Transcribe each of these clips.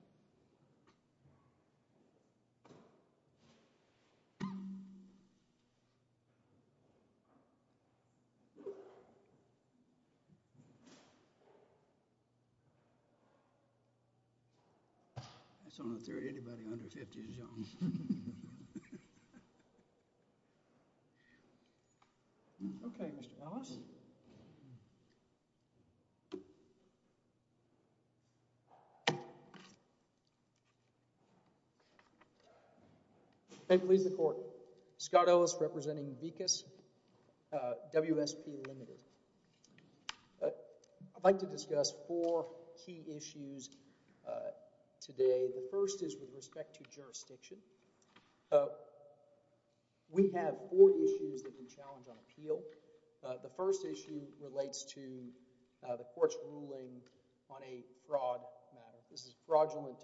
I just don't know if there's anybody under 50 that's young. I'd like to discuss four key issues today. The first is with respect to jurisdiction. We have four issues that have been challenged on appeal. The first issue relates to the court's ruling on a fraud matter. This is fraudulent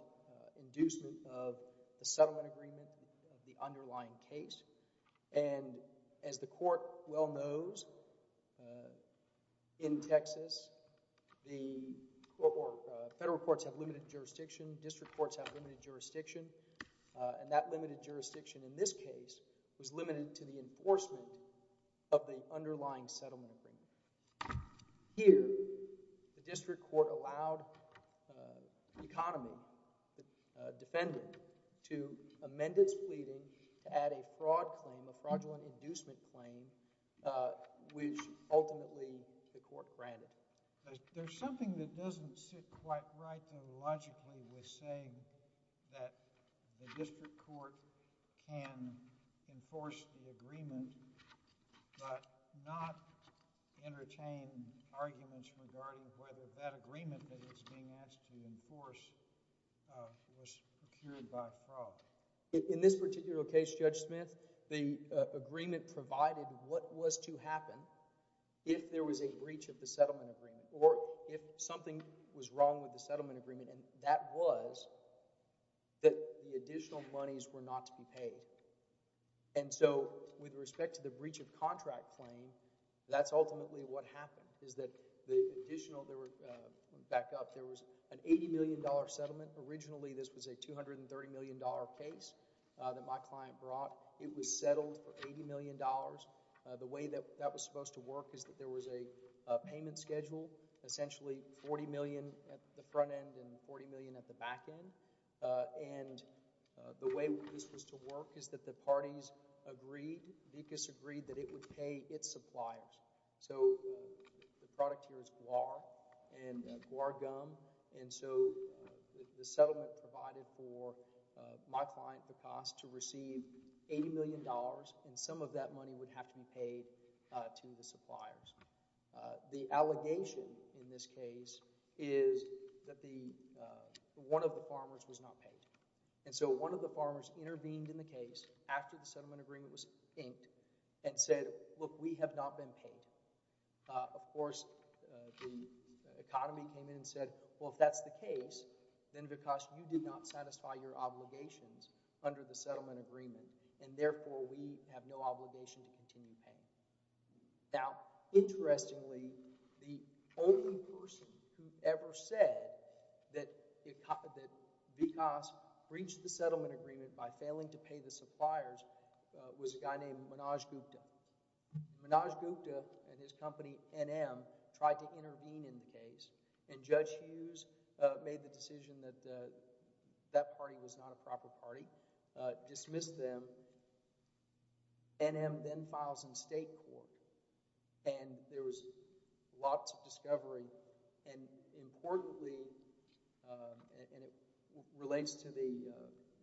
inducement of the settlement agreement of the underlying case. And as the court well knows, in Texas, the federal courts have limited jurisdiction. District courts have limited jurisdiction, and that limited jurisdiction in this case was limited to the enforcement of the underlying settlement agreement. Here, the district court allowed the economy, the defendant, to amend its pleading to add a fraud claim, a fraudulent inducement claim, which ultimately the court granted. There's something that doesn't sit quite right, though, logically, with saying that the district court can enforce the agreement, but not entertain arguments regarding whether that agreement that it's being asked to enforce was procured by fraud. In this particular case, Judge Smith, the agreement provided what was to happen if there was a breach of the settlement agreement, or if something was wrong with the settlement agreement, and that was that the additional monies were not to be paid. And so, with respect to the breach of contract claim, that's ultimately what happened, is that the additional, back up, there was an $80 million settlement. Originally, this was a $230 million case that my client brought. It was settled for $80 million. The way that that was supposed to work is that there was a payment schedule, essentially $40 million at the front end and $40 million at the back end, and the way this was to work is that the parties agreed, Vicus agreed, that it would pay its suppliers. So the product here is guar and guar gum, and so the settlement provided for my client Vicus to receive $80 million, and some of that money would have to be paid to the suppliers. The allegation in this case is that one of the farmers was not paid, and so one of the farmers intervened in the case after the settlement agreement was inked and said, look, we have not been paid. Of course, the economy came in and said, well, if that's the case, then Vicus, you did not satisfy your obligations under the settlement agreement, and therefore, we have no obligation to continue paying. Now, interestingly, the only person who ever said that Vicus breached the settlement agreement by failing to pay the suppliers was a guy named Manoj Gupta. Manoj Gupta and his company, NM, tried to intervene in the case, and Judge Hughes made the decision that that party was not a proper party, dismissed them. NM then files in state court, and there was lots of discovery, and importantly, and it relates to the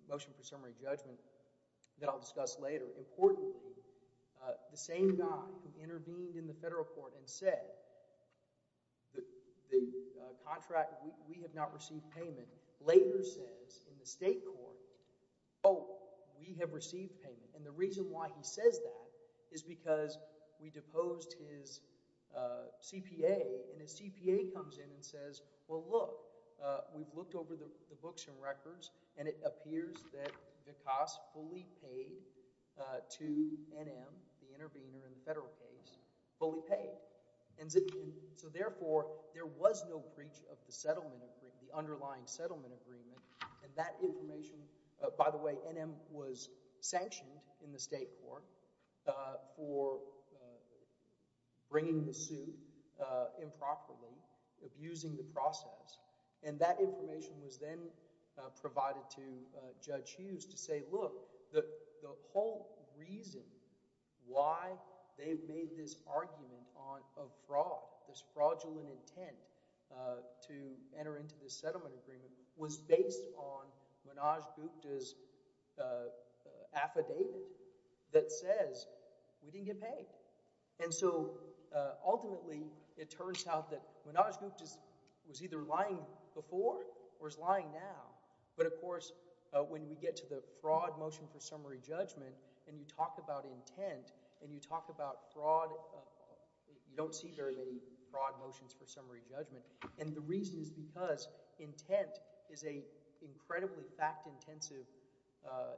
motion for summary judgment that I'll discuss later, importantly, the contract, we have not received payment, later says in the state court, oh, we have received payment. And the reason why he says that is because we deposed his CPA, and his CPA comes in and says, well, look, we've looked over the books and records, and it appears that Vicus fully paid to NM, the intervener in the federal case, fully paid. And so, therefore, there was no breach of the settlement agreement, the underlying settlement agreement, and that information, by the way, NM was sanctioned in the state court for bringing the suit improperly, abusing the process, and that information was then provided to fraud, this fraudulent intent to enter into the settlement agreement was based on Manoj Gupta's affidavit that says we didn't get paid. And so, ultimately, it turns out that Manoj Gupta was either lying before or is lying now. But, of course, when we get to the fraud motion for summary judgment, and you talk about intent, and you talk about fraud, you don't see very many fraud motions for summary judgment. And the reason is because intent is an incredibly fact-intensive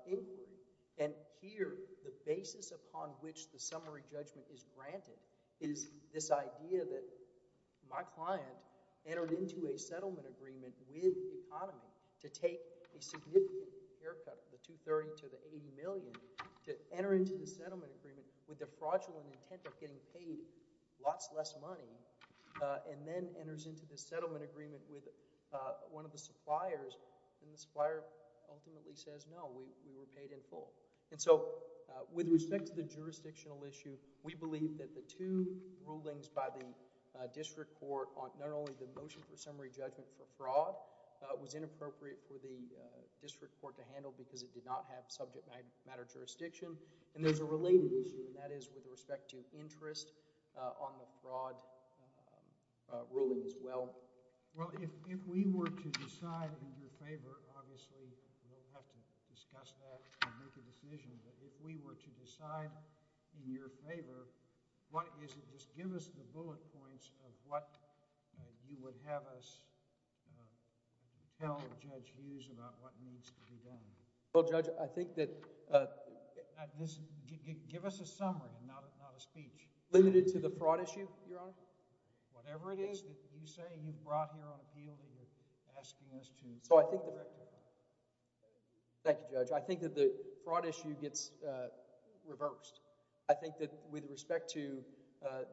inquiry, and here, the basis upon which the summary judgment is granted is this idea that my client entered into a settlement agreement with the economy to take a significant haircut, the 230 to the 80 million, to enter into the settlement agreement with the fraudulent intent of getting paid lots less money, and then enters into the settlement agreement with one of the suppliers, and the supplier ultimately says, no, we were paid in full. And so, with respect to the jurisdictional issue, we believe that the two rulings by the district court on not only the motion for summary judgment for fraud was inappropriate for the district court to handle because it did not have subject matter jurisdiction, and there's a related issue, and that is with respect to interest on the fraud ruling as well. Well, if we were to decide in your favor, obviously, we don't have to discuss that and make a decision, but if we were to decide in your favor, what is it? Just give us the bullet points of what you would have us tell Judge Hughes about what needs to be done. Well, Judge, I think that... Give us a summary, not a speech. Limited to the fraud issue, Your Honor? Whatever it is that you say you brought here on the field and you're asking us to... So, I think the... Thank you, Judge. I think that the fraud issue gets reversed. I think that with respect to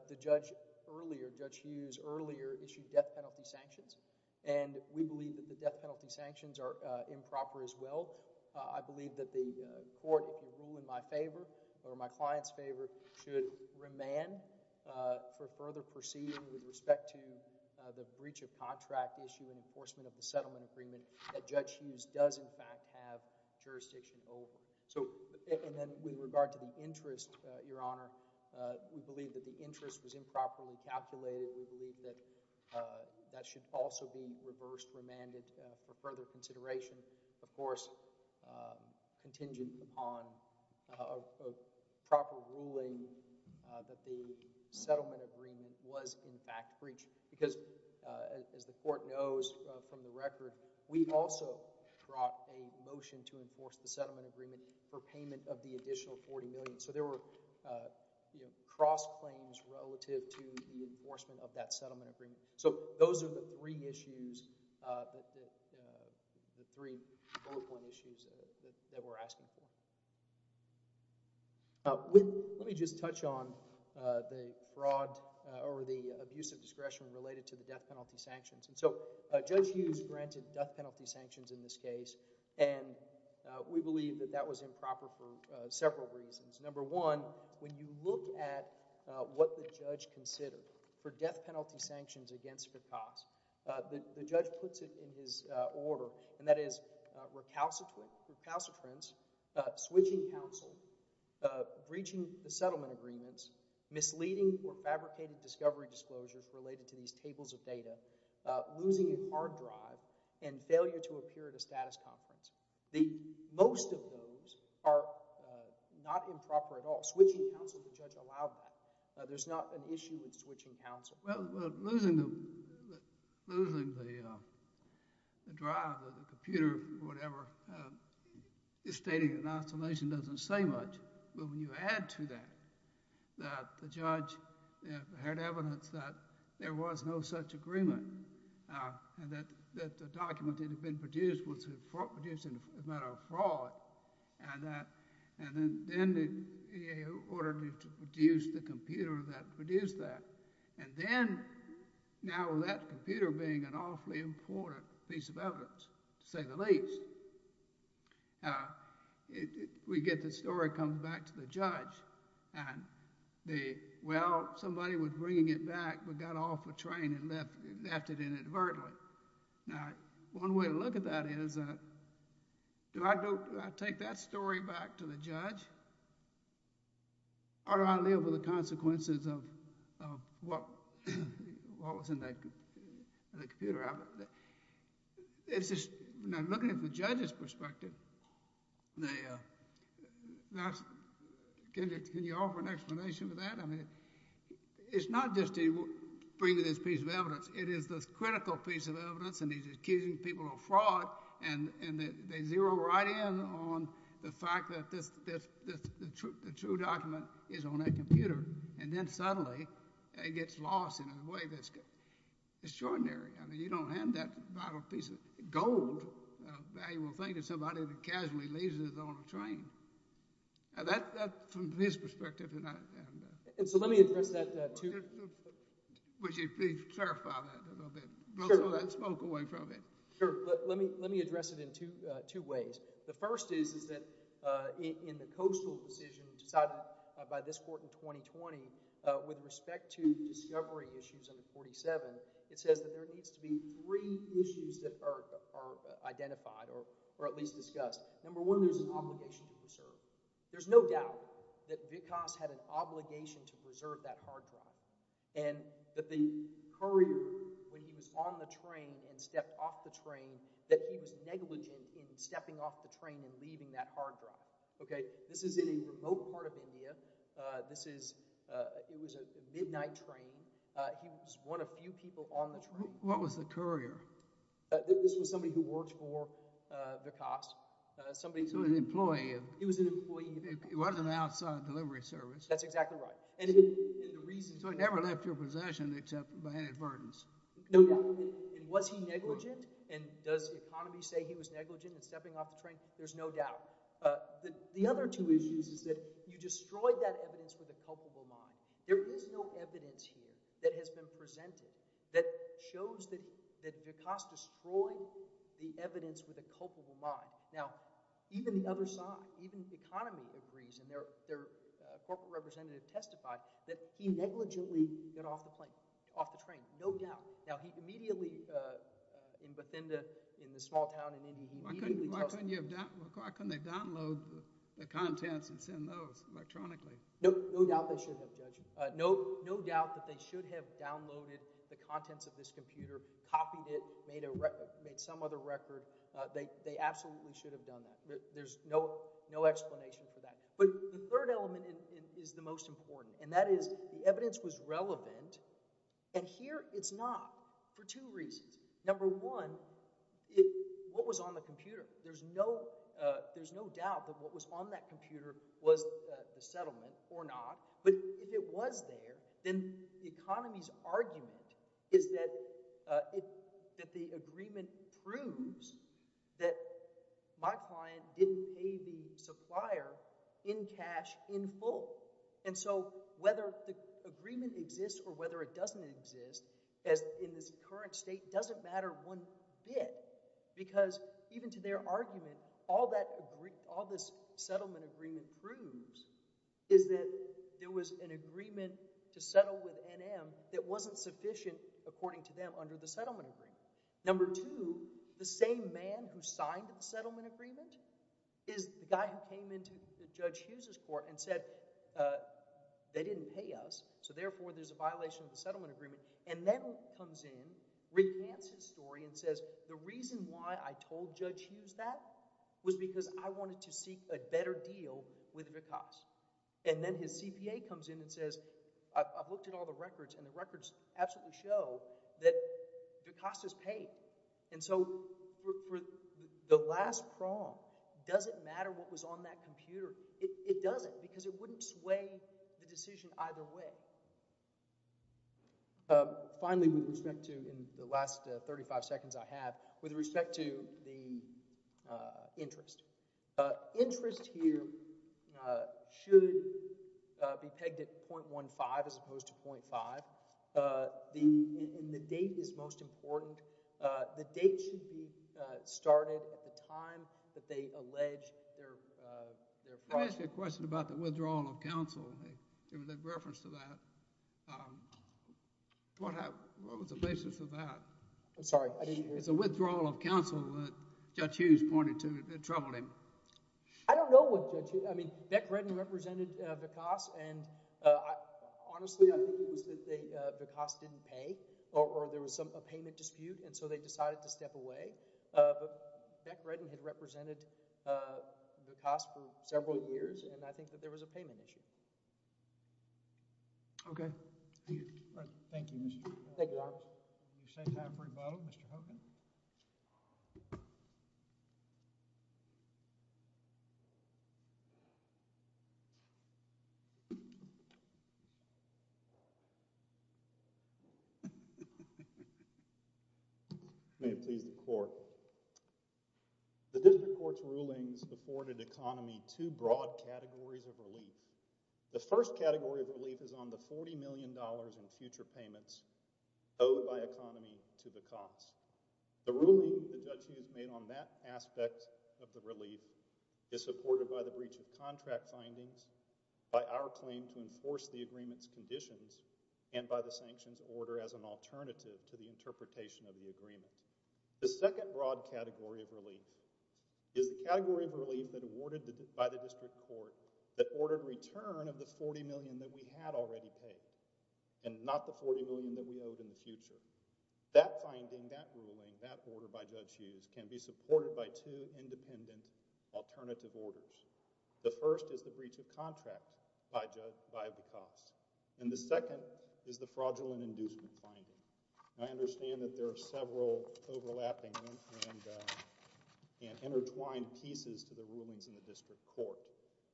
the Judge earlier, Judge Hughes earlier issued death penalty sanctions, and we believe that the death penalty sanctions are improper as well. I believe that the court, if you rule in my favor or my client's favor, should remand for further proceeding with respect to the breach of contract issue and enforcement of the settlement agreement that Judge Hughes does, in fact, have jurisdiction over. So, and then with regard to the interest, Your Honor, we believe that the interest was improperly calculated. We believe that that should also be reversed, remanded for further consideration, of course, contingent upon a proper ruling that the settlement agreement was, in fact, breached. Because, as the court knows from the record, we also brought a motion to enforce the settlement agreement for payment of the additional $40 million. So, there were, you know, cross-claims relative to the enforcement of that settlement agreement. So, those are the three issues, the three bullet point issues that we're asking for. Let me just touch on the fraud or the abuse of discretion related to the death penalty sanctions. And so, Judge Hughes granted death penalty sanctions in this case, and we believe that that was improper for several reasons. Number one, when you look at what the judge considered for death penalty sanctions against the cause, the judge puts it in his order, and that is recalcitrance, switching counsel, breaching the settlement agreements, misleading or fabricated discovery disclosures related to these tables of losing a hard drive and failure to appear at a status conference. Most of those are not improper at all. Switching counsel, the judge allowed that. There's not an issue with switching counsel. Well, losing the drive or the computer or whatever, stating an oscillation doesn't say much. But when you add to that that the judge had evidence that there was no such agreement, and that the document that had been produced was a matter of fraud, and then he ordered to produce the computer that produced that. And then, now that computer being an awfully important piece of evidence, to say the least, we get the story coming back to the judge. And the, well, somebody was bringing it back but got off a train and left it inadvertently. Now, one way to look at that is, do I take that story back to the judge? Or do I live with the consequences of what was in that computer? It's just, looking at it from the judge's perspective, can you offer an explanation for that? I mean, it's not just to bring you this piece of evidence. It is this critical piece of evidence, and he's accusing people of fraud, and they zero right in on the fact that the true document is on that computer. And then suddenly, it gets lost in a way that's extraordinary. I mean, you don't hand that piece of gold, a valuable thing, to somebody that casually leaves it on a train. Now, that's from his perspective. And so let me address that, too. Would you please clarify that a little bit? Sure. Blow all that smoke away from it. Sure. Let me address it in two ways. The first is that in the coastal decision decided by this court in 2020 with respect to discovery issues under 47, it says that there needs to be three issues that are identified or at least discussed. Number one, there's an obligation to preserve. There's no doubt that Vikas had an obligation to preserve that hard drive and that the courier, when he was on the train and stepped off the train, that he was negligent in stepping off the train and leaving that hard drive. This is in a remote part of India. It was a midnight train. He was one of few people on the train. What was the courier? This was somebody who worked for Vikas. So an employee. He was an employee. It wasn't an outside delivery service. That's exactly right. So he never left your possession except by inadvertence. No doubt. And was he negligent? And does the economy say he was negligent in stepping off the train? There's no doubt. The other two issues is that you destroyed that evidence with a culpable mind. There is no evidence here that has been presented that shows that Vikas destroyed the evidence with a culpable mind. Now, even the other side, even the economy agrees and their corporate representative testified that he negligently got off the train. No doubt. Now, he immediately, in Bathinda, in the small town in India, Why couldn't they download the contents and send those electronically? No doubt they should have, Judge. No doubt that they should have downloaded the contents of this computer, copied it, made some other record. They absolutely should have done that. There's no explanation for that. But the third element is the most important. And that is, the evidence was relevant. And here it's not for two reasons. Number one, what was on the computer? There's no doubt that what was on that computer was the settlement or not. But if it was there, then the economy's argument is that the agreement proves that my client didn't pay the supplier in cash in full. And so whether the agreement exists or whether it doesn't exist in this current state doesn't matter one bit. Because even to their argument, all this settlement agreement proves is that there was an agreement to settle with NM that wasn't sufficient, according to them, under the settlement agreement. Number two, the same man who signed the settlement agreement is the guy who came into Judge Hughes' court and said, they didn't pay us, so therefore there's a violation of the settlement agreement, and then comes in, recants his story, and says, the reason why I told Judge Hughes that was because I wanted to seek a better deal with Dukas. And then his CPA comes in and says, I've looked at all the records, and the records absolutely show that Dukas is paid. And so for the last prong, does it matter what was on that computer? It doesn't, because it wouldn't sway the decision either way. Finally, with respect to the last 35 seconds I have, with respect to the interest, interest here should be pegged at .15 as opposed to .5. And the date is most important. The date should be started at the time that they allege their project. Let me ask you a question about the withdrawal of counsel. There was a reference to that. What was the basis of that? I'm sorry, I didn't hear you. It's a withdrawal of counsel that Judge Hughes pointed to. It troubled him. I don't know what Judge Hughes, I mean, Beck Redden represented Dukas, and honestly, I think it was that Dukas didn't pay, or there was a payment dispute, and so they decided to step away. But Beck Redden had represented Dukas for several years, and I think that there was a payment issue. Okay. Thank you. Thank you, Your Honor. Will you say time for rebuttal, Mr. Hogan? I may have pleased the court. The district court's rulings afforded economy two broad categories of relief. The first category of relief is on the $40 million in future payments owed by economy to the cops. The ruling that Judge Hughes made on that aspect of the relief is supported by the breach of contract findings, by our claim to enforce the agreement's conditions, and by the sanctions order as an alternative to the interpretation of the agreement. The second broad category of relief is the category of relief that awarded by the district court that ordered return of the $40 million that we had already paid, and not the $40 million that we owed in the future. That finding, that ruling, that order by Judge Hughes can be supported by two independent alternative orders. The first is the breach of contract by the cops, and the second is the fraudulent inducement finding. I understand that there are several overlapping and intertwined pieces to the rulings in the district court.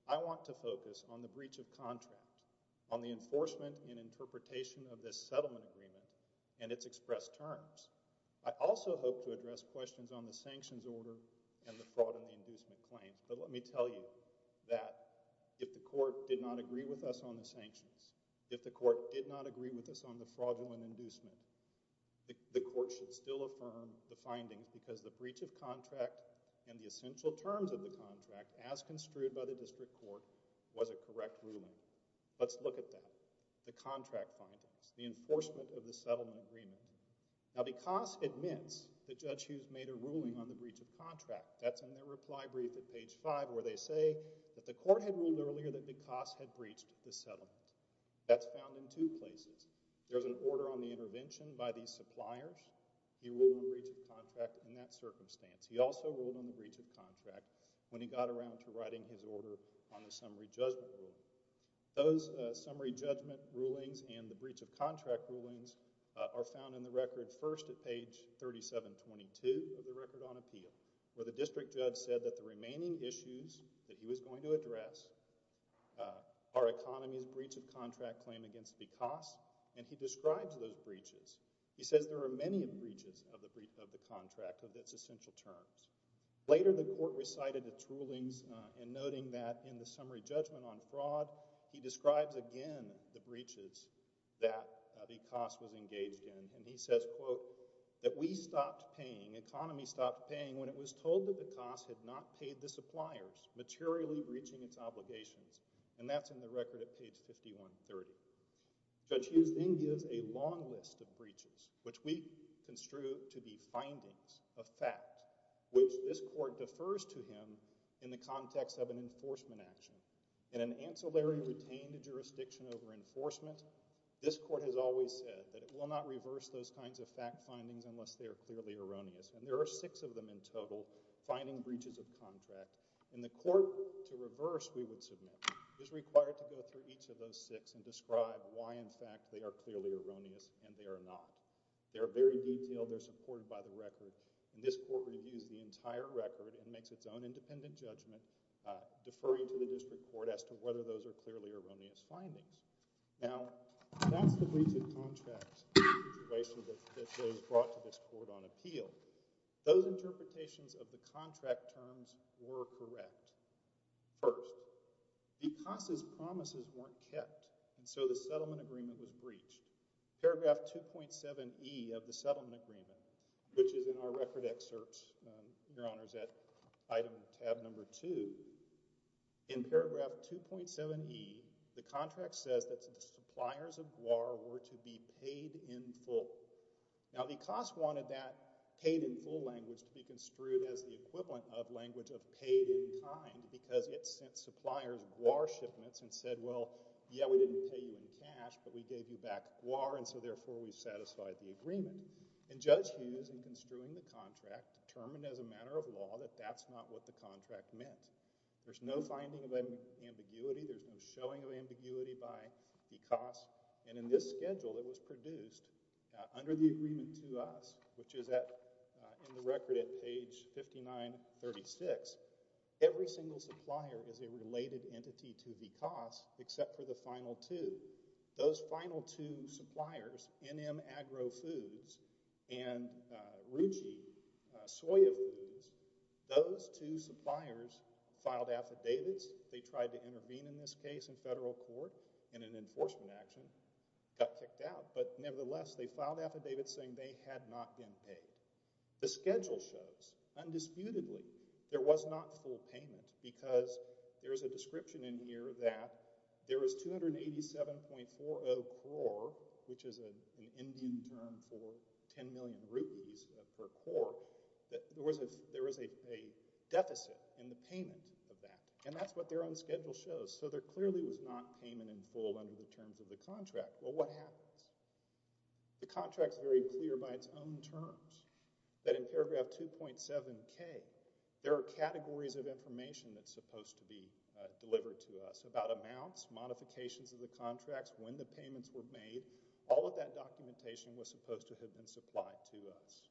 I want to focus on the breach of contract, on the enforcement and interpretation of this settlement agreement, and its expressed terms. I also hope to address questions on the sanctions order and the fraud and inducement claims, but let me tell you that if the court did not agree with us on the sanctions, if the court did not agree with us on the fraudulent inducement, the court should still affirm the findings because the breach of contract and the essential terms of the contract, as construed by the district court, was a correct ruling. Let's look at that. The contract findings, the enforcement of the settlement agreement. Now, because it admits that Judge Hughes made a ruling on the breach of contract, that's in their reply brief at page 5 where they say that the court had ruled earlier that because had breached the settlement. That's found in two places. There's an order on the intervention by these suppliers. He ruled on the breach of contract in that circumstance. He also ruled on the breach of contract when he got around to writing his order on the summary judgment ruling. Those summary judgment rulings and the breach of contract rulings are found in the record first at page 3722 of the record on appeal where the district judge said that the remaining issues that he was going to address are economy's breach of contract claim against because and he describes those breaches. He says there are many breaches of the contract of its essential terms. Later, the court recited the rulings and noting that in the summary judgment on fraud, he describes again the breaches that the cost was engaged in and he says that we stopped paying, economy stopped paying when it was told that the cost had not paid the suppliers materially breaching its obligations and that's in the record at page 5130. Judge Hughes then gives a long list of breaches which we construe to be findings of fact which this court defers to him in the context of an enforcement action. In an ancillary retained jurisdiction over enforcement this court has always said that it will not reverse those kinds of fact findings unless they are clearly erroneous and there are six of them in total finding breaches of contract and the court to reverse we would submit is required to go through each of those six and describe why in fact they are clearly erroneous and they are not. They are very detailed. They are supported by the record and this court reviews the entire record and makes its own independent judgment deferring to the district court as to whether those are clearly erroneous findings. Now that's the breach of contract situation that was brought to this court on appeal. Those interpretations of the contract terms were correct. First, because his promises weren't kept and so the settlement agreement was breached paragraph 2.7E of the settlement agreement which is in our record excerpts your honors at item tab number two in paragraph 2.7E the contract says that the suppliers of GWAR were to be paid in full. Now the cost wanted that paid in full language to be construed as the equivalent of language of paid in kind because it sent suppliers GWAR shipments and said well yeah we didn't pay you in cash but we gave you back the agreement and Judge Hughes in construing the contract determined as a matter of law that that's not what the contract meant. There's no finding of ambiguity. There's no showing of ambiguity by the cost and in this schedule that was produced under the agreement to us which is at the record at page 59 36 every single supplier is a related entity to the cost except for the final two. Those final two suppliers NMAgro Foods and Ruchi Soya Foods those two suppliers filed affidavits they tried to intervene in this case in federal court in an enforcement action got kicked out but nevertheless they filed affidavits saying they had not been paid. The schedule shows undisputedly there was not full payment because there's a description in here that there was 287.40 crore which is an Indian term for 10 million rupees per crore that there was a deficit in the payment of that and that's what their own schedule shows so there clearly was not payment in full under the terms of the contract. Well what happens? The contract's very clear by its own terms that in paragraph 2.7k there are categories of information that's supposed to be delivered to us about amounts, modifications of the contracts, when the payments were made, all of that documentation was supposed to have been supplied to us.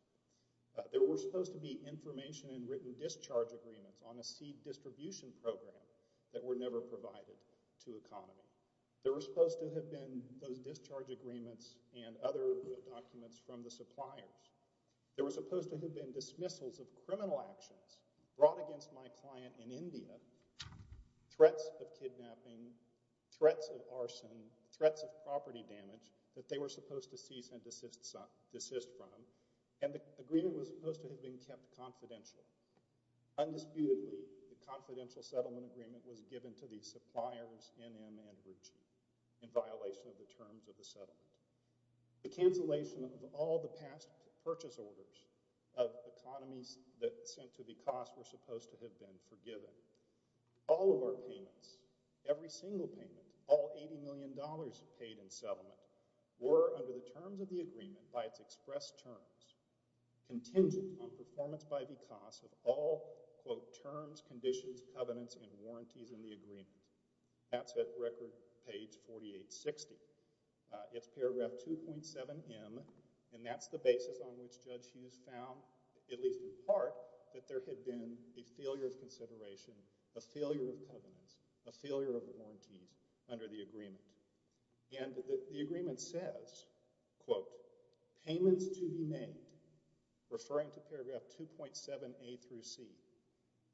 There were supposed to be information and written discharge agreements on a seed distribution program that were never provided to economy. There were supposed to have been those discharge agreements and other documents from the suppliers. There were supposed to have been dismissals of criminal actions brought against my client in India, threats of kidnapping, threats of arson, threats of property damage that they were supposed to cease and desist from, and the agreement was supposed to have been kept confidential. Undisputedly, the confidential settlement agreement was given to the suppliers in Andhra Pradesh in violation of the terms of the settlement. The cancellation of all the past purchase orders of economies that sent to the cost were supposed to have been forgiven. All of our payments, every single payment, all $80 million paid in settlement, were under the terms of the agreement, by its expressed terms, contingent on performance by the cost of all, quote, terms, conditions, covenants, and warranties in the agreement. That's at record page 4860. It's paragraph 2.7M, and that's the basis on which Judge Hughes found, at least in part, that there had been a failure of consideration, a failure of covenants, a failure of warranties under the agreement. And the agreement says, quote, payments to be made, referring to paragraph 2.7A through C,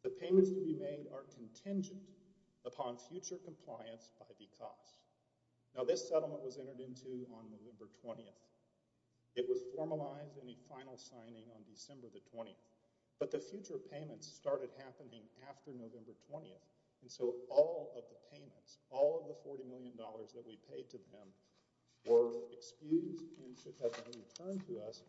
the payments to be made are contingent upon future compliance by the cost. Now this settlement was entered into on November 20th. It was formalized in a final signing on December the 20th. But the future payments started happening after November 20th. And so all of the payments, all of the $40 million that we paid to them were excused and should have been returned to us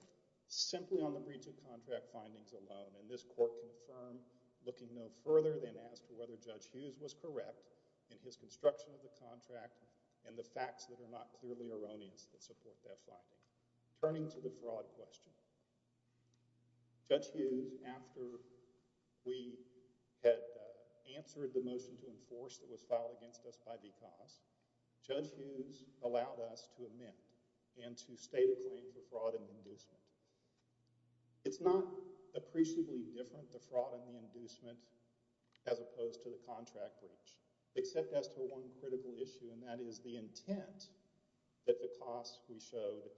simply on the breach of contract findings alone. And this court confirmed, looking no further than as to whether Judge Hughes was correct in his construction of the contract and the facts that are not clearly erroneous that support that finding. Turning to the fraud question, Judge Hughes, after we had answered the motion to enforce that was filed against us by because, Judge Hughes allowed us to amend and to state a claim for fraud and inducement. It's not appreciably different to fraud and inducement as opposed to the contract breach, except as to one critical issue and that is the intent that the cost we showed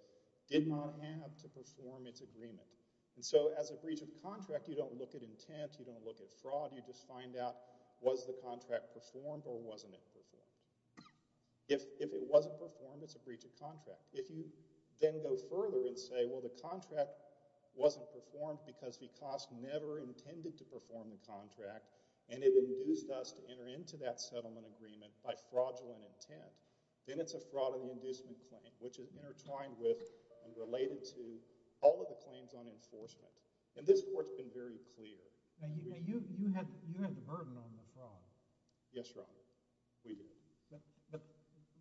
did not have to perform its agreement. And so as a breach of contract, you don't look at intent, you don't look at fraud, you just find out was the contract performed or wasn't it performed. If it wasn't performed, it's a breach of contract. If you then go further and say, well, the contract wasn't performed because the cost never intended to perform the contract and it induced us to enter into that settlement agreement by fraudulent intent, then it's a fraud and inducement claim, which is intertwined with and related to all of the claims on enforcement. And this court's been very clear. You had the burden on the fraud. Yes, Your Honor.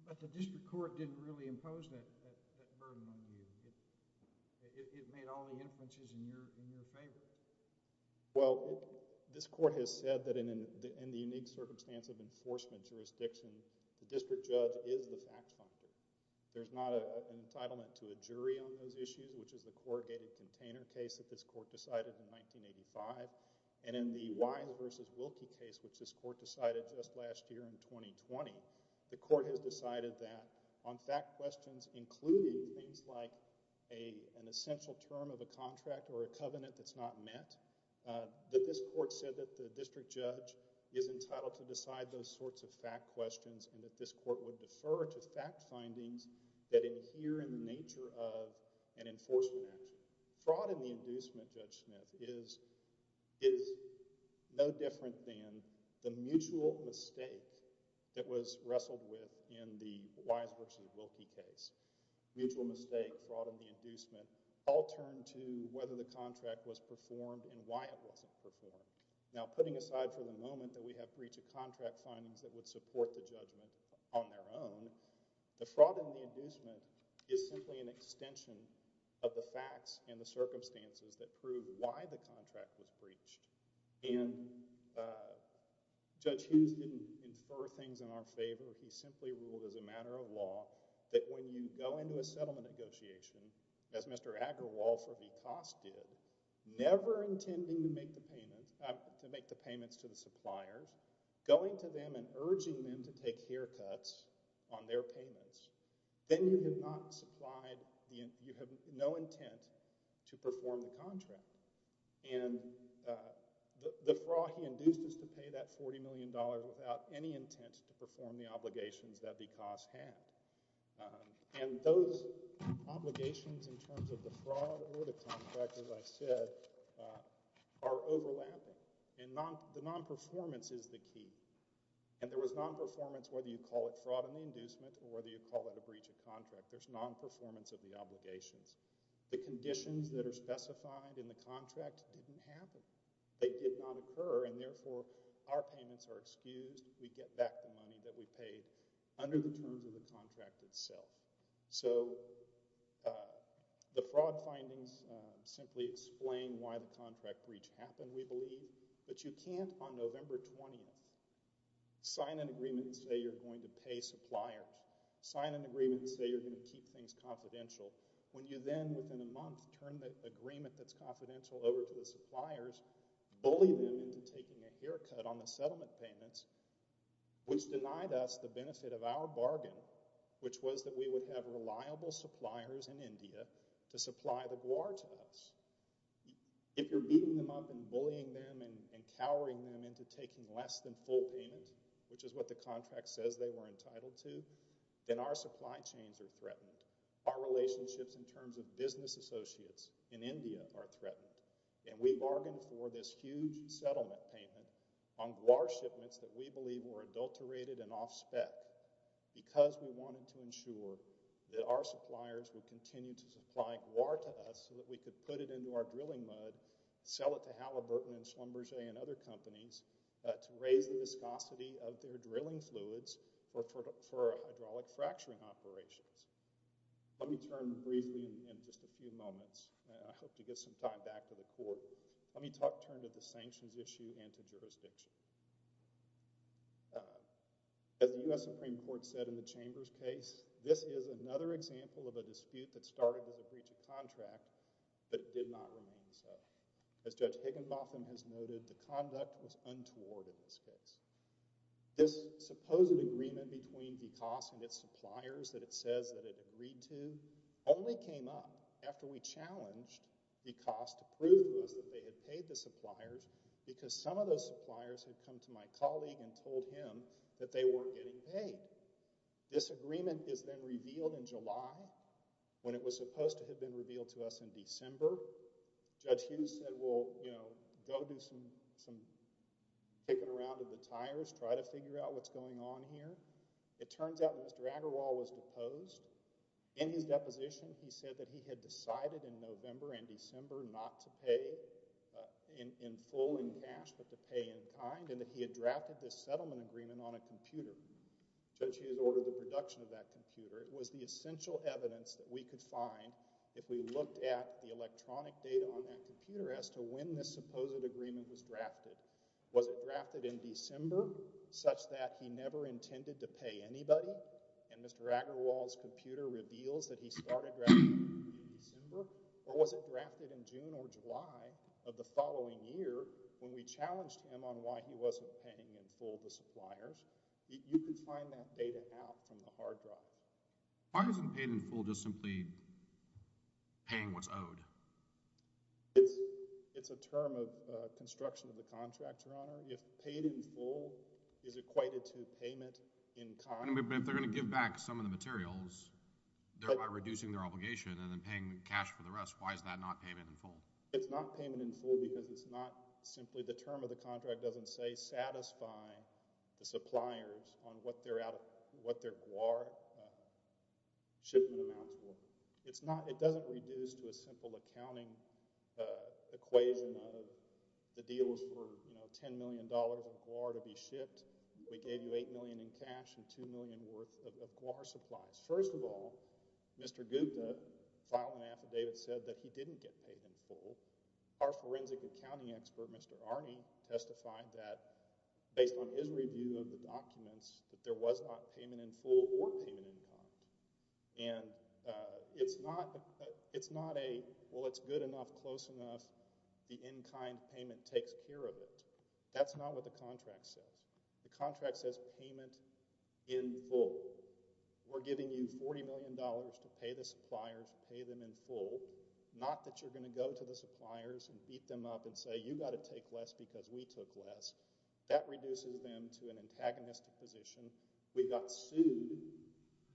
But the district court didn't really impose that burden on you. It made all the inferences in your favor. Well, this court has said that in the unique circumstance of a district judge is the fact finder. There's not an entitlement to a jury on those issues, which is the corrugated container case that this court decided in 1985. And in the Wise v. Wilkie case, which this court decided just last year in 2020, the court has decided that on fact questions including things like an essential term of a contract or a covenant that's not met, that this court said that the district judge is entitled to decide those sorts of fact questions and that this court would defer to fact findings that adhere in the nature of an enforcement action. Fraud in the inducement, Judge Smith, is no different than the mutual mistake that was wrestled with in the Wise v. Wilkie case. Mutual mistake, fraud in the inducement all turn to whether the contract was performed and why it wasn't performed. Now, putting aside for the moment that we have breach of contract findings that would support the judgment on their own, the fraud in the inducement is simply an extension of the facts and the circumstances that prove why the contract was breached. And Judge Hughes didn't infer things in our favor. He simply ruled as a matter of law that when you go into a settlement negotiation, as Mr. Aggarwal for Becas did, never intending to make the payments to the suppliers, going to them and urging them to take haircuts on their payments, then you have no intent to perform the contract. And the fraud he induced is to pay that $40 million without any intent to perform the obligations that Becas had. And those obligations in terms of the fraud or the contract, as I said, are overlapping. And the nonperformance is the key. And there was nonperformance whether you call it fraud in the inducement or whether you call it a breach of contract. There's nonperformance of the obligations. The conditions that are specified in the contract didn't happen. They did not occur and therefore our payments are excused. We get back the money that we paid under the terms of the contract itself. So the fraud findings simply explain why the contract breach happened, we believe. But you can't on November 20th sign an agreement and say you're going to pay suppliers, sign an agreement and say you're going to keep things confidential, when you then within a month turn the agreement that's confidential over to the suppliers, bully them into taking a haircut on the settlement payments, which denied us the benefit of our bargain, which was that we would have reliable suppliers in Guar to us. If you're beating them up and bullying them and cowering them into taking less than full payment, which is what the contract says they were entitled to, then our supply chains are threatened. Our relationships in terms of business associates in India are threatened. And we bargained for this huge settlement payment on Guar shipments that we believe were adulterated and off spec because we wanted to ensure that our suppliers would continue to supply Guar to us so that we could put it into our drilling mud, sell it to Halliburton and Schlumberger and other companies to raise the viscosity of their drilling fluids for hydraulic fracturing operations. Let me turn briefly in just a few moments. I hope to get some time back to the court. Let me turn to the sanctions issue and to jurisdiction. As the U.S. Supreme Court said in the Chambers case, this is another example of a dispute that started with a breach of contract but it did not remain so. As Judge Higginbotham has noted, the conduct was untoward in this case. This supposed agreement between DCOS and its suppliers that it says that it agreed to only came up after we challenged DCOS to prove to us that they had paid the suppliers because some of those suppliers had come to my colleague and told him that they weren't getting paid. This agreement is then revealed in July when it was supposed to have been revealed to us in December. Judge Hughes said, well, you know, go do some kicking around with the tires, try to figure out what's going on here. It turns out Mr. Agarwal was deposed. In his deposition, he said that he had decided in November and December not to pay in full in cash but to pay in kind and that he had drafted this settlement agreement on a computer. Judge Hughes ordered the production of that computer. It was the essential evidence that we could find if we looked at the electronic data on that computer as to when this supposed agreement was drafted. Was it drafted in December such that he never intended to pay anybody and Mr. Agarwal's computer reveals that he started in December? Or was it drafted in June or July of the following year when we challenged him on why he wasn't paying in full the suppliers? You could find that data out from the hard drive. Why isn't paid in full just simply paying what's owed? It's a term of construction of the contract, Your Honor. If paid in full is equated to payment in kind. If they're going to give back some of the materials thereby reducing their obligation and then paying the cash for the rest, why is that not payment in full? It's not payment in full because it's not simply the term of the contract doesn't say satisfy the suppliers on what their GWAR shipment amounts were. It doesn't reduce to a simple accounting equation of the deals for $10 million of GWAR to be shipped. We gave you $8 million in cash and $2 million worth of GWAR supplies. First of all, Mr. Gupta filed an affidavit that said he didn't get paid in full. Our forensic accounting expert, Mr. Arney, testified that based on his review of the documents that there was not payment in full or payment in kind. And it's not a well it's good enough, close enough, the in kind payment takes care of it. That's not what the contract says. The contract says payment in full. We're giving you $40 million to pay the suppliers, pay them in full, and then we're going to go to the suppliers and beat them up and say you got to take less because we took less. That reduces them to an antagonistic position. We got sued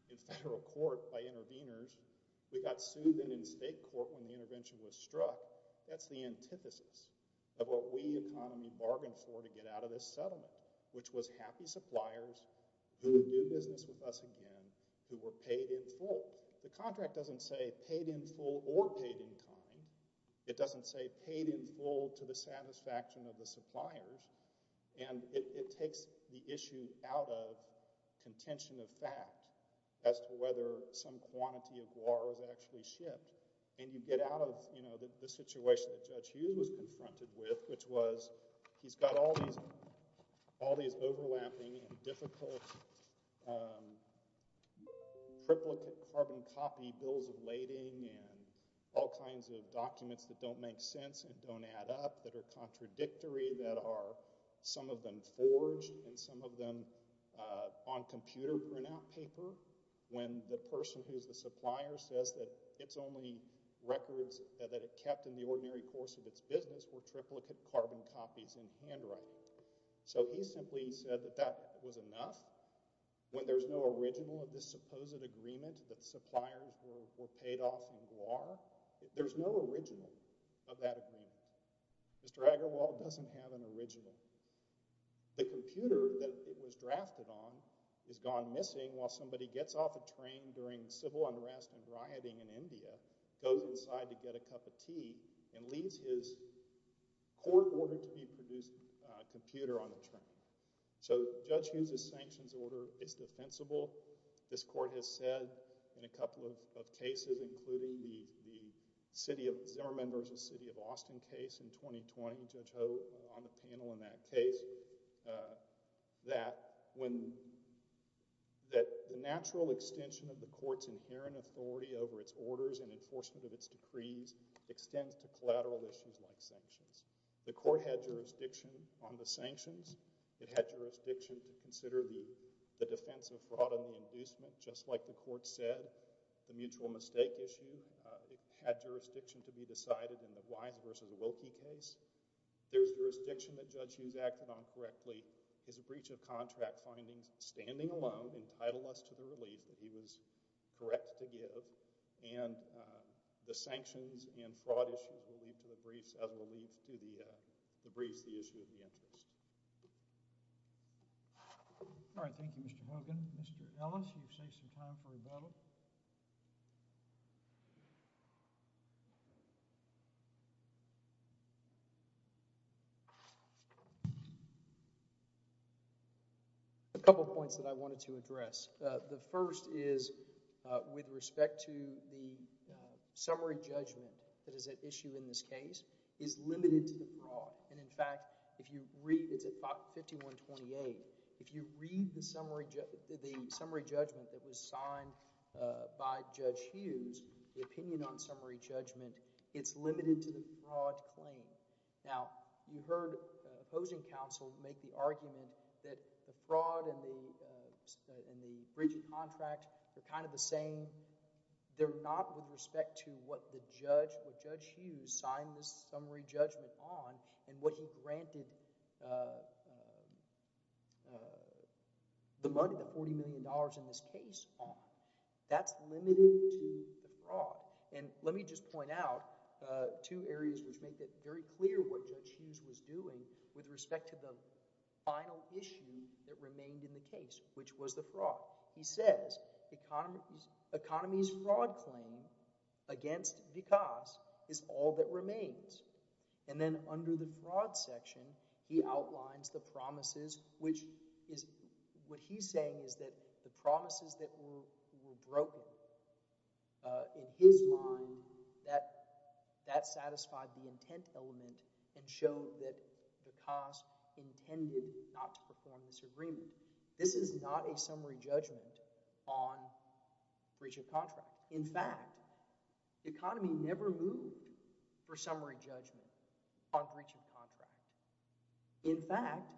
in federal court by interveners. We got sued then in state court when the intervention was struck. That's the antithesis of what we economy bargained for to get out of this settlement, which was happy suppliers who would do business with us again who were paid in full. The contract doesn't say paid in full or paid in kind. It doesn't say paid in full to the satisfaction of the suppliers. And it takes the issue out of contention of fact as to whether some quantity of guar was actually shipped. And you get out of the situation that Judge Hughes was confronted with, which was he's got all these overlapping and difficult triplicate carbon copy bills of lading and all kinds of documents that don't make sense and don't add up, that are contradictory, that are some of them forged and some of them on computer printout paper, when the person who's the supplier says that it's only records that it kept in the ordinary course of its business were triplicate carbon copies in handwriting. So he simply said that that was enough. When there's no original of this supposed agreement that suppliers were paid off in guar, there's no original of that agreement. Mr. Agarwal doesn't have an original. The computer that it was drafted on is gone missing while somebody gets off a train during civil unrest and rioting in India, goes inside to get a cup of tea, and leaves his court-ordered-to-be-produced computer on the train. So Judge Hughes' sanctions order is defensible. This court has said in a couple of cases, including the Zimmerman v. City of Austin case in 2020, Judge Hogue on the panel in that case, that when the natural extension of the court's inherent authority over its orders and enforcement of its decrees extends to collateral issues like sanctions. The court had jurisdiction on the sanctions. It had jurisdiction to consider the defense of fraud and the inducement, just like the court said. The mutual mistake issue had jurisdiction to be decided in the Wise v. Wilkie case. There's jurisdiction that Judge Hughes acted on correctly. His breach of contract findings, standing alone, entitled us to the relief that he was correct to give. And the sanctions and fraud issue will lead to the briefs on the issue of the interest. All right. Thank you, Mr. Hogan. Mr. Ellis, you've saved some time for rebuttal. A couple points that I wanted to address. The first is with respect to the summary judgment that is at issue in this case is limited to the fraud. And in fact, it's at 51-28. If you read the summary judgment that was signed by Judge Hughes, the opinion on summary judgment, it's limited to the fraud claim. Now, you heard opposing counsel make the argument that the fraud and the breach of contract are kind of the same. They're not with respect to what Judge Hughes signed this summary judgment on and what he granted the money, the $40 million in this case on. That's limited to the fraud. And let me just point out two areas which make it very clear what Judge Hughes was doing with respect to the final issue that remained in the case, which was the fraud. He says, economy's fraud claim against Vikas is all that remains. And then under the fraud section, he outlines the promises which is, what he's saying is that the promises that were broken in his mind that satisfied the intent element and showed that Vikas intended not to perform this agreement. This is not a summary judgment on fraud. The economy never moved for summary judgment on breach of contract. In fact,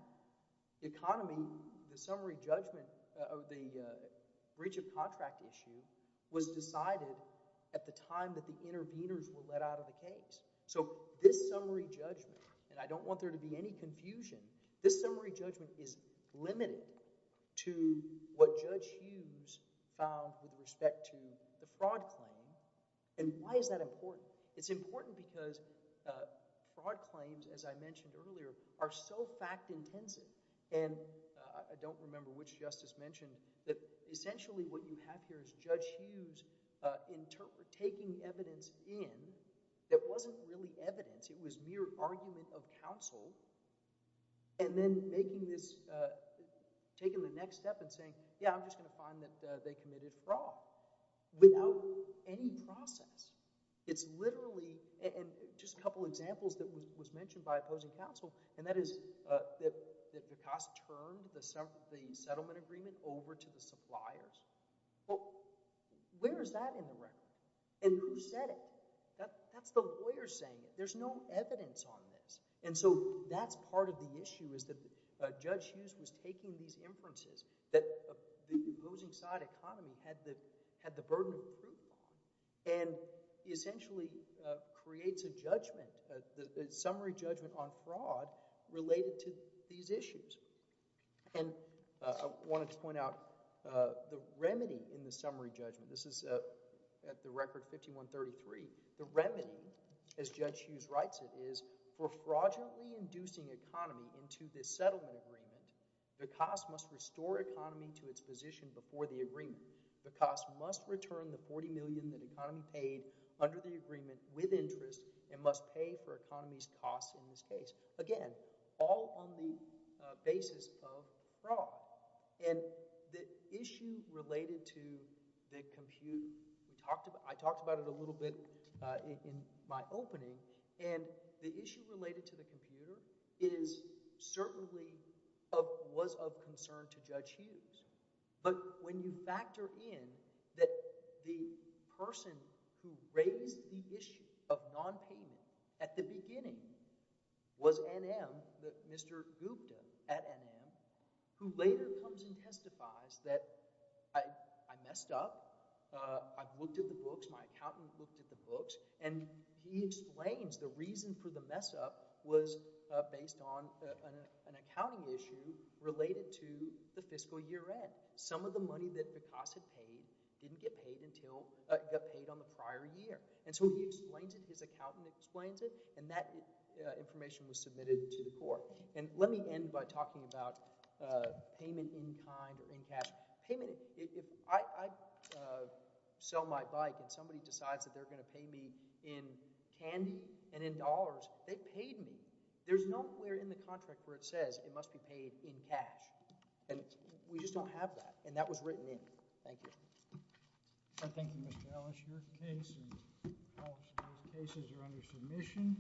the economy, the summary judgment of the breach of contract issue was decided at the time that the interveners were let out of the case. So this summary judgment, and I don't want there to be any confusion, this summary judgment is limited to what Judge Hughes found with respect to the fraud claim. And why is that important? It's important because fraud claims, as I mentioned earlier, are so fact-intensive. And I don't remember which justice mentioned that essentially what you have here is Judge Hughes taking evidence in that wasn't really evidence. It was mere argument of counsel and then taking the next step and saying, yeah, I'm just going to find that they committed fraud without any process. It's literally, and just a couple examples that was mentioned by opposing counsel, and that is that Picasso turned the settlement agreement over to the suppliers. Well, where is that in the record? And who said it? That's the lawyer saying it. There's no evidence on this. And so that's part of the issue is that Judge Hughes was taking these inferences that the losing side economy had the burden of proof on, and he essentially creates a judgment, a summary judgment on fraud related to these issues. And I wanted to point out the remedy in the summary judgment. This is at the record 5133. The remedy, as Judge Hughes writes it, is for fraudulently inducing economy into this settlement agreement. The cost must restore economy to its position before the agreement. The cost must return the $40 million that economy paid under the agreement with interest and must pay for economy's cost in this case. Again, all on the basis of fraud. And the issue related to the compute, I talked about it a little bit in my opening, and the issue related to the computer certainly was of concern to Judge Hughes. But when you factor in that the person who raised the issue of nonpayment at the beginning was NM, Mr. Gupta at NM, who later comes and testifies that I messed up, I looked at the books, my accountant looked at the books, and he was based on an accounting issue related to the fiscal year end. Some of the money that Picasso paid didn't get paid until— got paid on the prior year. And so he explains it, his accountant explains it, and that information was submitted to the court. And let me end by talking about payment in kind or in cash. Payment— if I sell my bike and somebody decides that they're going to pay me in candy and in dollars, they paid me. There's nowhere in the contract where it says it must be paid in cash. And we just don't have that. And that was written in. Thank you. Thank you, Mr. Ellis. Your case and all of those cases are under submission.